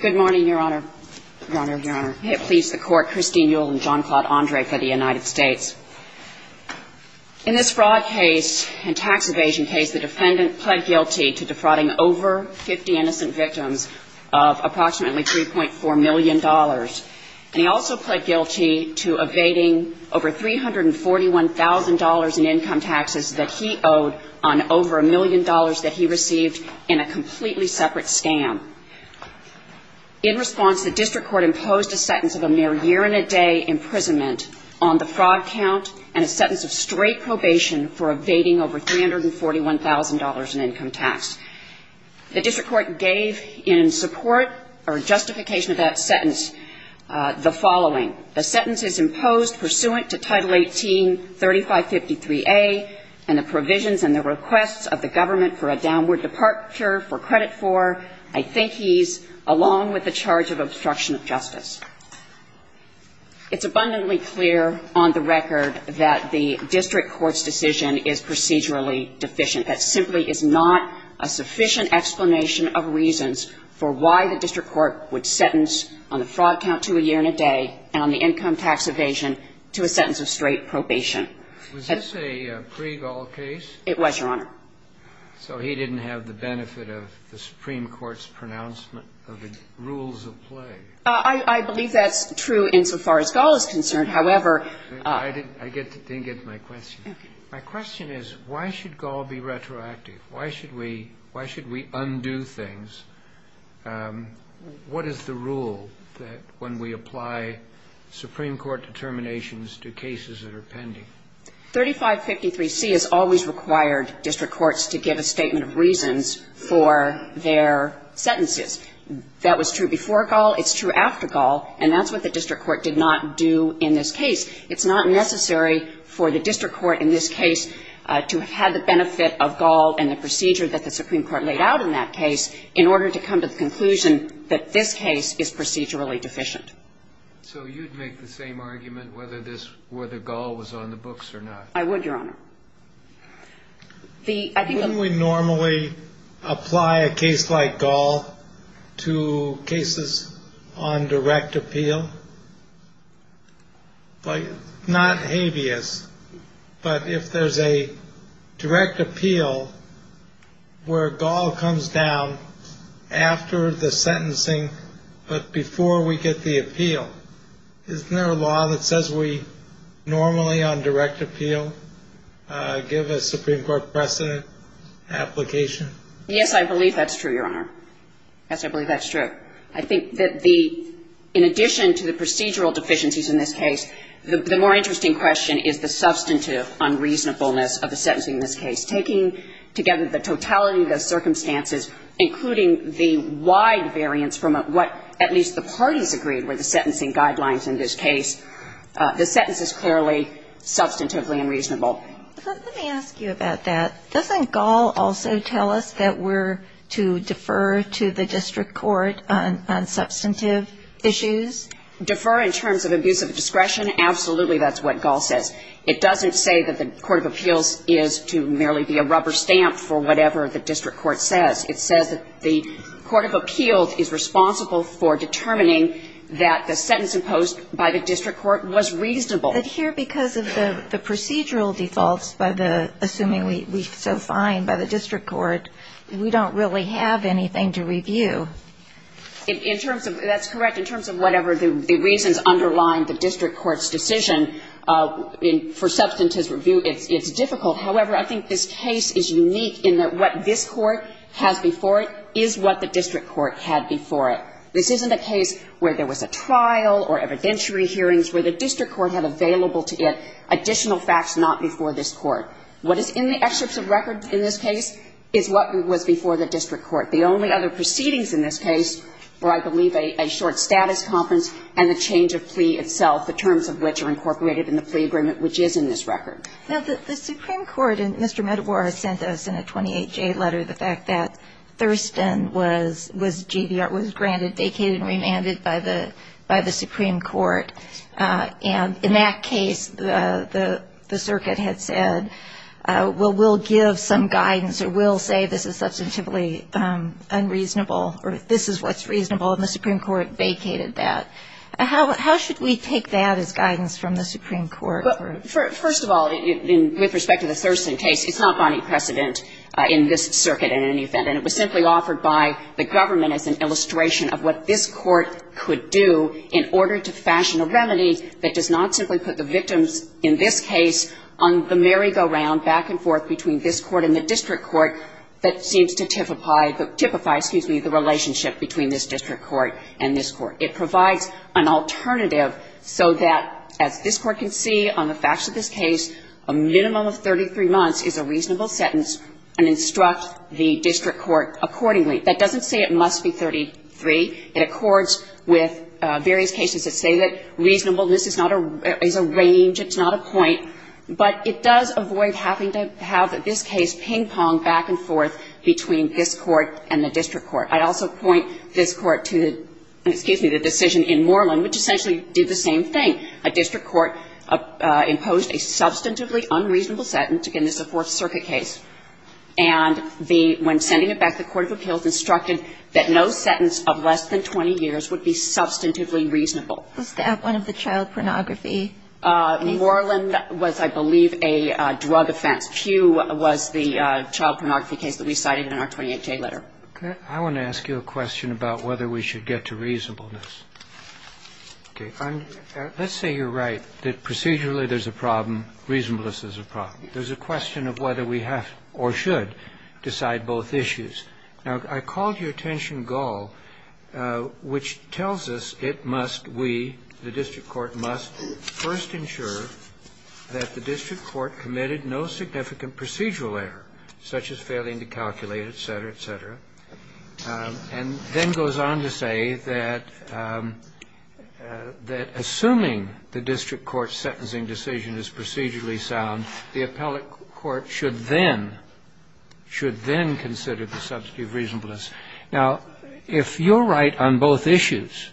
Good morning, Your Honor. Please, the Court, Christine Ewell and John Claude Andre for the United States. In this fraud case and tax evasion case, the defendant pled guilty to defrauding over 50 innocent victims of approximately $3.4 million. And he also pled guilty to evading over $341,000 in income taxes that he owed on over $1 million that he received in a completely separate scam. In response, the district court imposed a sentence of a mere year and a day imprisonment on the fraud count and a sentence of straight probation for evading over $341,000 in income tax. The district court gave in support or justification of that sentence the following. The sentence is imposed pursuant to Title 18-3553A and the provisions and the requests of the government for a downward departure for credit for, I think he's, along with the charge of obstruction of justice. It's abundantly clear on the record that the district court's decision is procedurally deficient. That simply is not a sufficient explanation of reasons for why the district court would sentence on the fraud count to a year and a day and on the income tax evasion to a sentence of straight probation. Was this a pre-Gaul case? It was, Your Honor. So he didn't have the benefit of the Supreme Court's pronouncement of the rules of play. I believe that's true insofar as Gaul is concerned. I didn't get to my question. My question is, why should Gaul be retroactive? Why should we undo things? What is the rule when we apply Supreme Court determinations to cases that are pending? 3553C has always required district courts to give a statement of reasons for their sentences. That was true before Gaul. It's true after Gaul. And that's what the district court did not do in this case. It's not necessary for the district court in this case to have had the benefit of Gaul and the procedure that the Supreme Court laid out in that case in order to come to the conclusion that this case is procedurally deficient. So you'd make the same argument whether this, whether Gaul was on the books or not? I would, Your Honor. When we normally apply a case like Gaul to cases on direct appeal, not habeas, but if there's a direct appeal where Gaul comes down after the sentencing but before we get the appeal, isn't there a law that says we normally on direct appeal give a Supreme Court precedent application? Yes, I believe that's true, Your Honor. Yes, I believe that's true. I think that the, in addition to the procedural deficiencies in this case, the more interesting question is the substantive unreasonableness of the sentencing in this case, taking together the totality of the circumstances, including the wide variance from what at least the parties agreed were the sentencing guidelines in this case. The sentence is clearly substantively unreasonable. Let me ask you about that. Doesn't Gaul also tell us that we're to defer to the district court on substantive issues? Defer in terms of abuse of discretion? Absolutely, that's what Gaul says. It doesn't say that the court of appeals is to merely be a rubber stamp for whatever the district court says. It says that the court of appeals is responsible for determining that the sentence imposed by the district court was reasonable. But here because of the procedural defaults by the, assuming we so find by the district court, we don't really have anything to review. In terms of, that's correct, in terms of whatever the reasons underlying the district court's decision, for substantive review it's difficult. However, I think this case is unique in that what this court has before it is what the district court had before it. This isn't a case where there was a trial or evidentiary hearings where the district court had available to it additional facts not before this court. What is in the excerpts of record in this case is what was before the district court. The only other proceedings in this case were, I believe, a short status conference and the change of plea itself, the terms of which are incorporated in the plea agreement which is in this record. Now, the Supreme Court, and Mr. Medawar sent us in a 28-J letter the fact that Thurston was GDR, was granted, vacated and remanded by the Supreme Court. And in that case, the circuit had said, well, we'll give some guidance or we'll say this is substantively unreasonable or this is what's reasonable, and the Supreme Court vacated that. How should we take that as guidance from the Supreme Court? First of all, with respect to the Thurston case, it's not brought any precedent in this circuit in any event. And it was simply offered by the government as an illustration of what this court could do in order to fashion a remedy that does not simply put the victims in this case on the merry-go-round back and forth between this court and the district court that seems to typify, typify, excuse me, the relationship between this district court and this court. It provides an alternative so that, as this Court can see on the facts of this case, a minimum of 33 months is a reasonable sentence and instruct the district court accordingly. That doesn't say it must be 33. It accords with various cases that say that reasonableness is not a range, it's not a point. But it does avoid having to have this case ping-pong back and forth between this court and the district court. I'd also point this Court to, excuse me, the decision in Moreland, which essentially did the same thing. A district court imposed a substantively unreasonable sentence. Again, this is a Fourth Circuit case. And when sending it back, the court of appeals instructed that no sentence of less than 20 years would be substantively reasonable. Was that one of the child pornography? Moreland was, I believe, a drug offense. Pew was the child pornography case that we cited in our 28-J letter. I want to ask you a question about whether we should get to reasonableness. Okay. Let's say you're right that procedurally there's a problem, reasonableness is a problem. There's a question of whether we have or should decide both issues. Now, I called your attention Gull, which tells us it must, we, the district court, must first ensure that the district court committed no significant procedural error, such as failing to calculate, et cetera, et cetera, and then goes on to say that assuming the district court's sentencing decision is procedurally sound, the appellate court should then, should then consider the substantive reasonableness. Now, if you're right on both issues,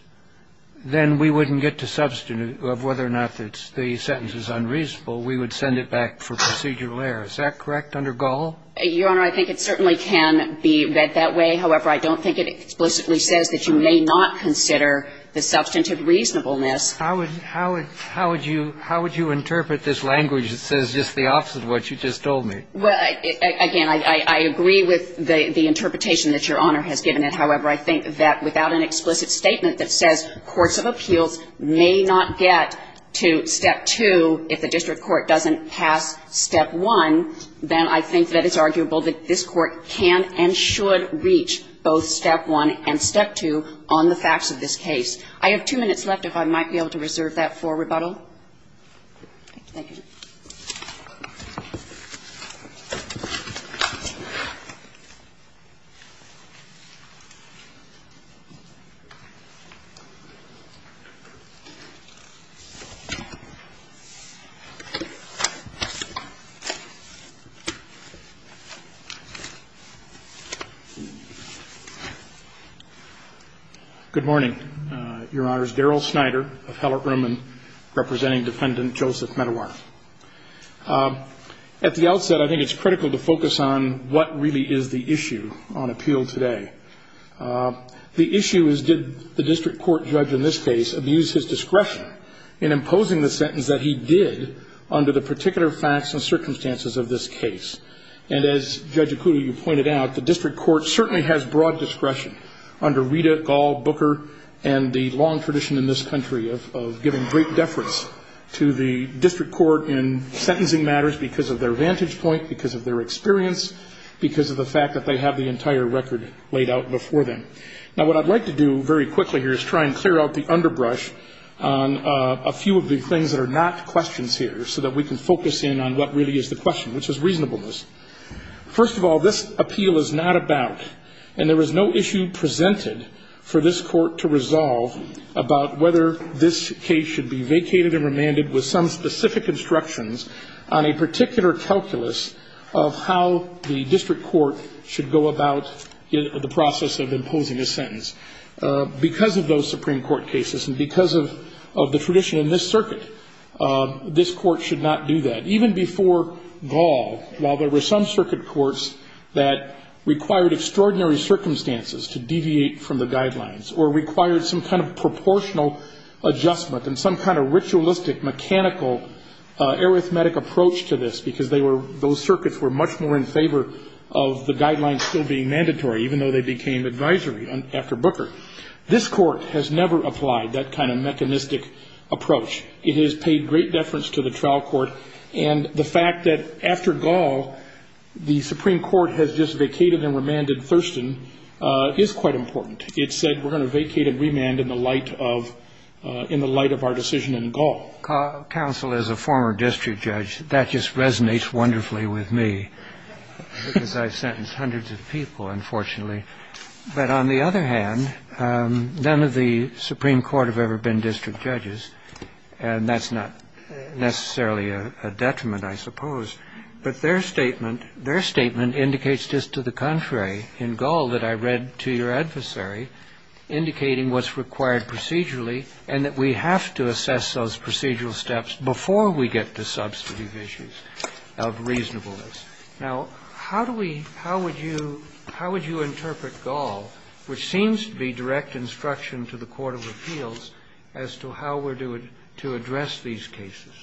then we wouldn't get to substantive, of whether or not the sentence is unreasonable. We would send it back for procedural error. Is that correct under Gull? Your Honor, I think it certainly can be read that way. However, I don't think it explicitly says that you may not consider the substantive reasonableness. How would you interpret this language that says just the opposite of what you just told me? Well, again, I agree with the interpretation that Your Honor has given it. However, I think that without an explicit statement that says courts of appeals may not get to Step 2 if the district court doesn't pass Step 1, then I think that it's arguable that this Court can and should reach both Step 1 and Step 2 on the facts of this case. I have two minutes left, if I might be able to reserve that for rebuttal. Thank you. Thank you. Good morning. Good morning. Your Honor, it's Darrell Snyder, appellate room, and representing Defendant Joseph Medawar. At the outset, I think it's critical to focus on what really is the issue on appeal today. The issue is did the district court judge in this case abuse his discretion in imposing the sentence that he did under the particular facts and circumstances of this case? And as Judge Ocudo, you pointed out, the district court certainly has broad discretion under Rita, Gall, Booker, and the long tradition in this country of giving great deference to the district court in sentencing matters because of their vantage point, because of their experience, because of the fact that they have the entire record laid out before them. Now, what I'd like to do very quickly here is try and clear out the underbrush on a few of the things that are not questions here so that we can focus in on what really is the question, which is reasonableness. First of all, this appeal is not about, and there is no issue presented for this court to resolve, about whether this case should be vacated and remanded with some specific instructions on a particular calculus of how the district court should go about the process of imposing a sentence. Because of those Supreme Court cases and because of the tradition in this circuit, this court should not do that. Even before Gall, while there were some circuit courts that required extraordinary circumstances to deviate from the guidelines or required some kind of proportional adjustment and some kind of ritualistic, mechanical, arithmetic approach to this because those circuits were much more in favor of the guidelines still being mandatory even though they became advisory after Booker. This court has never applied that kind of mechanistic approach. It has paid great deference to the trial court. And the fact that after Gall, the Supreme Court has just vacated and remanded Thurston is quite important. It said we're going to vacate and remand in the light of our decision in Gall. Counsel as a former district judge, that just resonates wonderfully with me because I've sentenced hundreds of people, unfortunately. But on the other hand, none of the Supreme Court have ever been district judges. And that's not necessarily a detriment, I suppose. But their statement, their statement indicates just to the contrary in Gall that I read to your adversary indicating what's required procedurally and that we have to assess those procedural steps before we get to substantive issues of reasonableness. Now, how do we, how would you, how would you interpret Gall, which seems to be direct instruction to the court of appeals as to how we're to address these cases?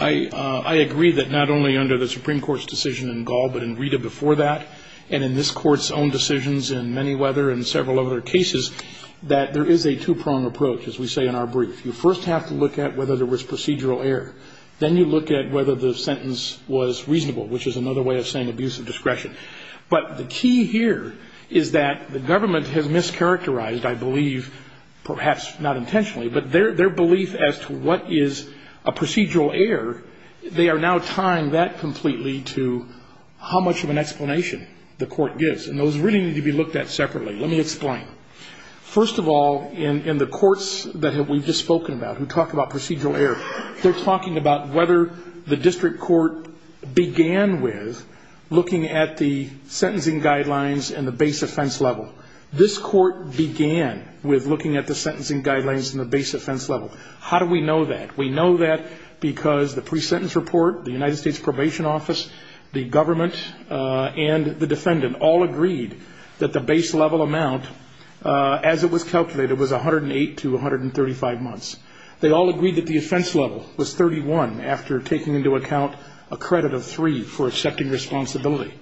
I agree that not only under the Supreme Court's decision in Gall, but in Rita before that, and in this Court's own decisions in Manyweather and several other cases, that there is a two-prong approach, as we say in our brief. You first have to look at whether there was procedural error. Then you look at whether the sentence was reasonable, which is another way of saying abuse of discretion. But the key here is that the government has mischaracterized, I believe, perhaps not intentionally, but their belief as to what is a procedural error, they are now tying that completely to how much of an explanation the court gives. And those really need to be looked at separately. Let me explain. First of all, in the courts that we've just spoken about who talk about procedural error, they're talking about whether the district court began with looking at the sentencing guidelines and the base offense level. This court began with looking at the sentencing guidelines and the base offense level. How do we know that? We know that because the pre-sentence report, the United States Probation Office, the government, and the defendant all agreed that the base level amount, as it was calculated, was 108 to 135 months. They all agreed that the offense level was 31 after taking into account a credit of three for accepting responsibility.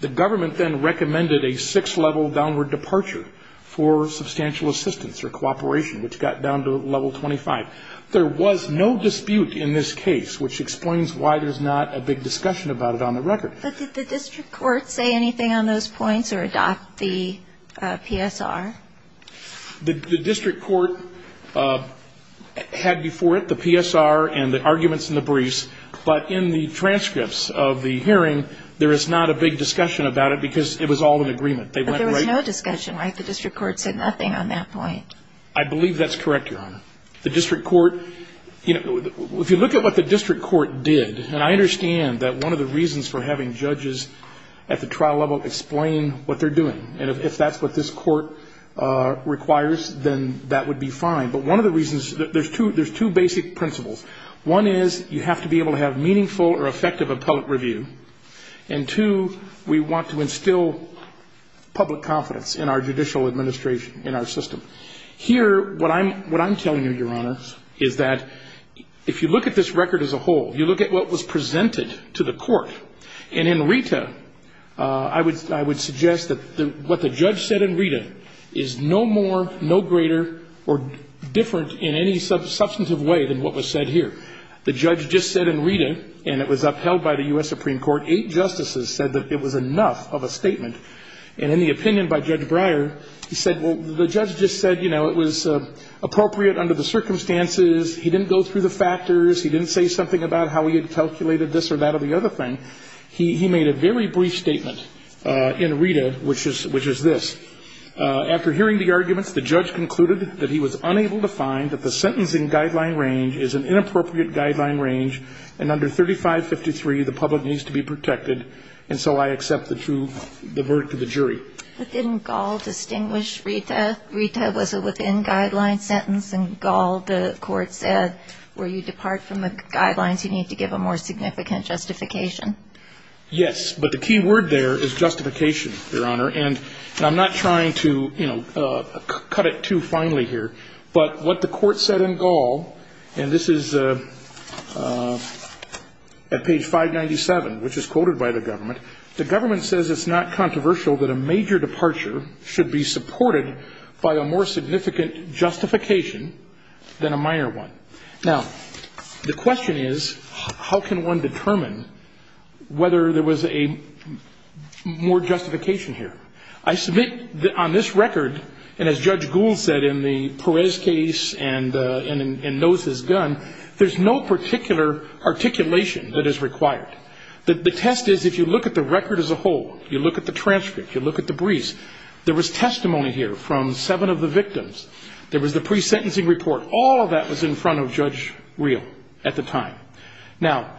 The government then recommended a six-level downward departure for substantial assistance or cooperation, which got down to level 25. There was no dispute in this case, which explains why there's not a big discussion about it on the record. But did the district court say anything on those points or adopt the PSR? The district court had before it the PSR and the arguments in the briefs. But in the transcripts of the hearing, there is not a big discussion about it because it was all in agreement. But there was no discussion, right? The district court said nothing on that point. I believe that's correct, Your Honor. The district court, you know, if you look at what the district court did, and I understand that one of the reasons for having judges at the trial level explain what they're doing, and if that's what this court requires, then that would be fine. But one of the reasons, there's two basic principles. One is you have to be able to have meaningful or effective appellate review. And, two, we want to instill public confidence in our judicial administration, in our system. Here, what I'm telling you, Your Honor, is that if you look at this record as a whole, you look at what was presented to the court, and in Rita, I would suggest that what the judge said in Rita is no more, no greater, or different in any substantive way than what was said here. The judge just said in Rita, and it was upheld by the U.S. Supreme Court, eight justices said that it was enough of a statement. And in the opinion by Judge Breyer, he said, well, the judge just said, you know, it was appropriate under the circumstances. He didn't go through the factors. He didn't say something about how he had calculated this or that or the other thing. He made a very brief statement in Rita, which is this. After hearing the arguments, the judge concluded that he was unable to find that the sentence in guideline range is an inappropriate guideline range, and under 3553, the public needs to be protected. And so I accept the verdict of the jury. But didn't Gall distinguish Rita? Rita was a within-guideline sentence, and Gall, the court said, where you depart from the guidelines, you need to give a more significant justification. Yes. But the key word there is justification, Your Honor. And I'm not trying to, you know, cut it too finely here. But what the court said in Gall, and this is at page 597, which is quoted by the government. The government says it's not controversial that a major departure should be supported by a more significant justification than a minor one. Now, the question is, how can one determine whether there was a more justification here? I submit on this record, and as Judge Gould said in the Perez case and in Nose's gun, there's no particular articulation that is required. The test is, if you look at the record as a whole, you look at the transcript, you look at the briefs, there was testimony here from seven of the victims. There was the pre-sentencing report. All of that was in front of Judge Reel at the time. Now,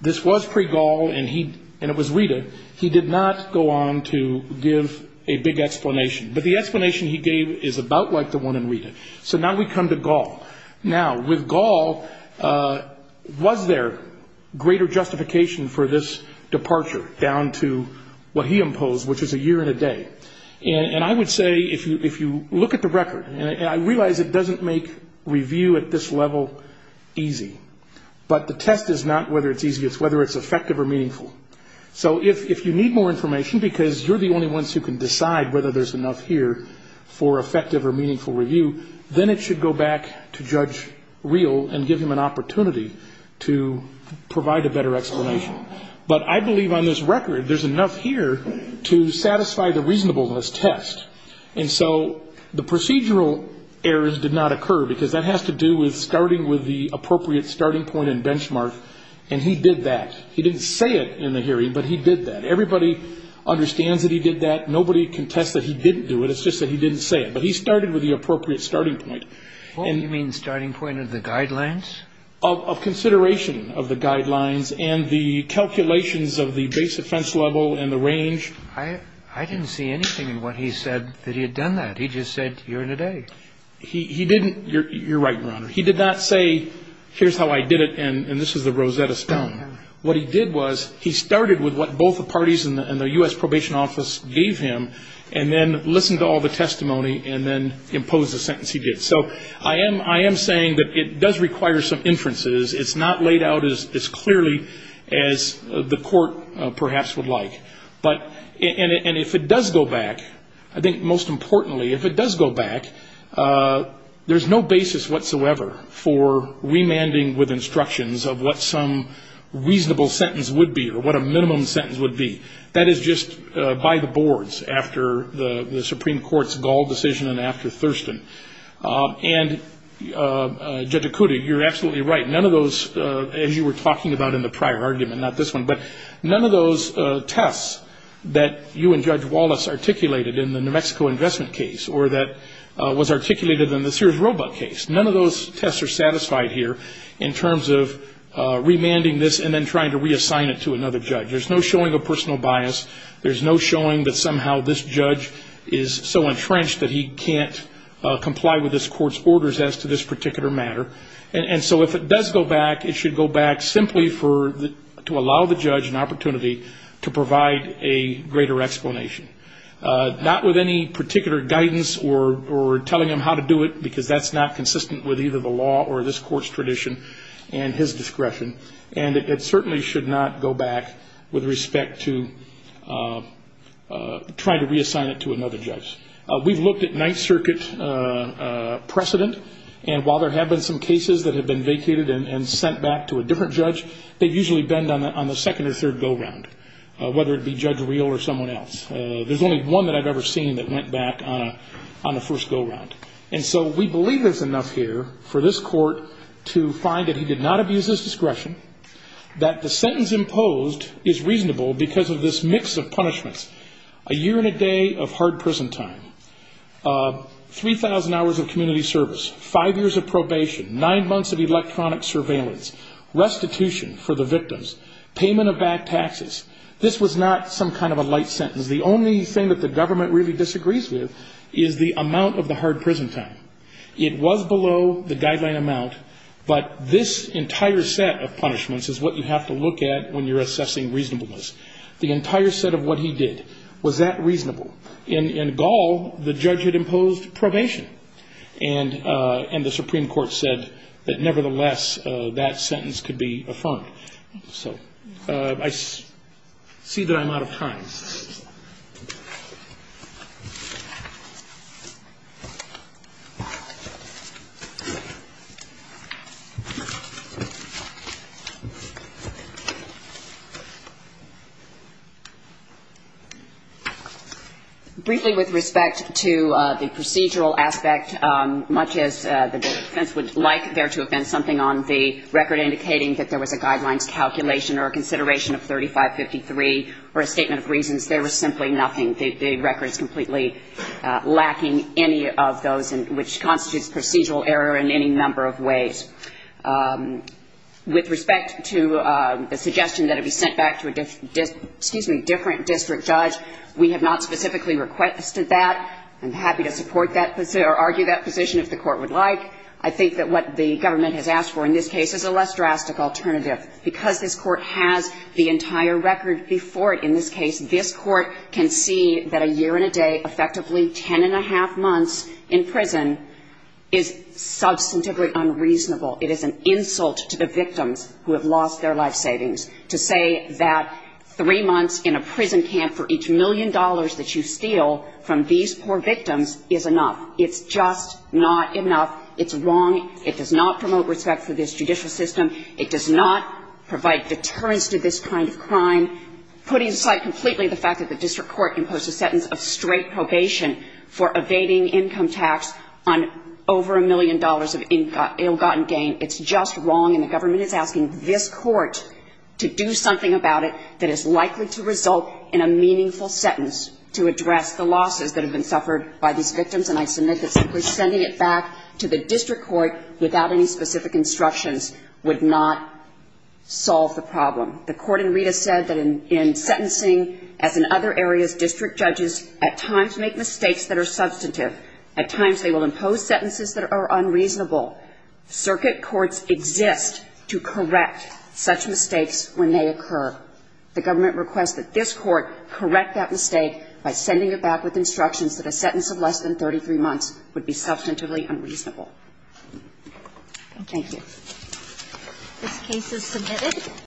this was pre-Gall, and it was Rita. He did not go on to give a big explanation. But the explanation he gave is about like the one in Rita. So now we come to Gall. Now, with Gall, was there greater justification for this departure down to what he imposed, which is a year and a day? And I would say, if you look at the record, and I realize it doesn't make review at this level easy. But the test is not whether it's easy. It's whether it's effective or meaningful. So if you need more information because you're the only ones who can decide whether there's enough here for effective or meaningful review, then it should go back to Judge Reel and give him an opportunity to provide a better explanation. But I believe on this record there's enough here to satisfy the reasonableness test. And so the procedural errors did not occur because that has to do with starting with the appropriate starting point and benchmark, and he did that. He didn't say it in the hearing, but he did that. Everybody understands that he did that. Nobody contests that he didn't do it. It's just that he didn't say it. But he started with the appropriate starting point. You mean starting point of the guidelines? Of consideration of the guidelines and the calculations of the base offense level and the range. I didn't see anything in what he said that he had done that. He just said a year and a day. He didn't. You're right, Your Honor. He did not say, here's how I did it, and this is the Rosetta Stone. What he did was he started with what both the parties in the U.S. Probation Office gave him and then listened to all the testimony and then imposed the sentence he did. So I am saying that it does require some inferences. It's not laid out as clearly as the court perhaps would like. And if it does go back, I think most importantly, if it does go back, there's no basis whatsoever for remanding with instructions of what some reasonable sentence would be or what a minimum sentence would be. That is just by the boards after the Supreme Court's Gall decision and after Thurston. And, Judge Okuda, you're absolutely right. None of those, as you were talking about in the prior argument, not this one, but none of those tests that you and Judge Wallace articulated in the New Mexico investment case or that was articulated in the Sears-Robut case, none of those tests are satisfied here in terms of remanding this and then trying to reassign it to another judge. There's no showing of personal bias. There's no showing that somehow this judge is so entrenched that he can't comply with this court's orders as to this particular matter. And so if it does go back, it should go back simply to allow the judge an opportunity to provide a greater explanation, not with any particular guidance or telling him how to do it because that's not consistent with either the law or this court's tradition and his discretion. And it certainly should not go back with respect to trying to reassign it to another judge. We've looked at Ninth Circuit precedent, and while there have been some cases that have been vacated and sent back to a different judge, they usually bend on the second or third go-round, whether it be Judge Reel or someone else. There's only one that I've ever seen that went back on the first go-round. And so we believe there's enough here for this court to find that he did not abuse his discretion, that the sentence imposed is reasonable because of this mix of punishments, a year and a day of hard prison time, 3,000 hours of community service, five years of probation, nine months of electronic surveillance, restitution for the victims, payment of back taxes. This was not some kind of a light sentence. The only thing that the government really disagrees with is the amount of the hard prison time. It was below the guideline amount, but this entire set of punishments is what you have to look at when you're assessing reasonableness. The entire set of what he did, was that reasonable? In Gaul, the judge had imposed probation, and the Supreme Court said that, nevertheless, that sentence could be affirmed. So I see that I'm out of time. Briefly, with respect to the procedural aspect, much as the defense would like there to have been something on the record indicating that there was a guidelines calculation or a consideration of 3553 or a statement of reasons, there was simply nothing. The record is completely lacking any of those, which constitutes procedural error in any number of ways. With respect to the suggestion that it be sent back to a different district judge, we have not specifically requested that. I'm happy to support that position or argue that position if the Court would like. I think that what the government has asked for in this case is a less drastic alternative. Because this Court has the entire record before it in this case, this Court can see that a year and a day, effectively ten and a half months in prison, is substantively unreasonable. It is an insult to the victims who have lost their life savings. To say that three months in a prison camp for each million dollars that you steal from these poor victims is enough. It's just not enough. It's wrong. It does not promote respect for this judicial system. It does not provide deterrence to this kind of crime. Putting aside completely the fact that the district court imposed a sentence of straight probation for evading income tax on over a million dollars of ill-gotten gain, it's just wrong. And the government is asking this Court to do something about it that is likely to result in a meaningful sentence to address the losses that have been suffered by these victims. And I submit that simply sending it back to the district court without any specific instructions would not solve the problem. The Court in Rita said that in sentencing, as in other areas, district judges at times make mistakes that are substantive. At times they will impose sentences that are unreasonable. Circuit courts exist to correct such mistakes when they occur. The government requests that this Court correct that mistake by sending it back with instructions that a sentence of less than 33 months would be substantively unreasonable. Thank you. This case is submitted.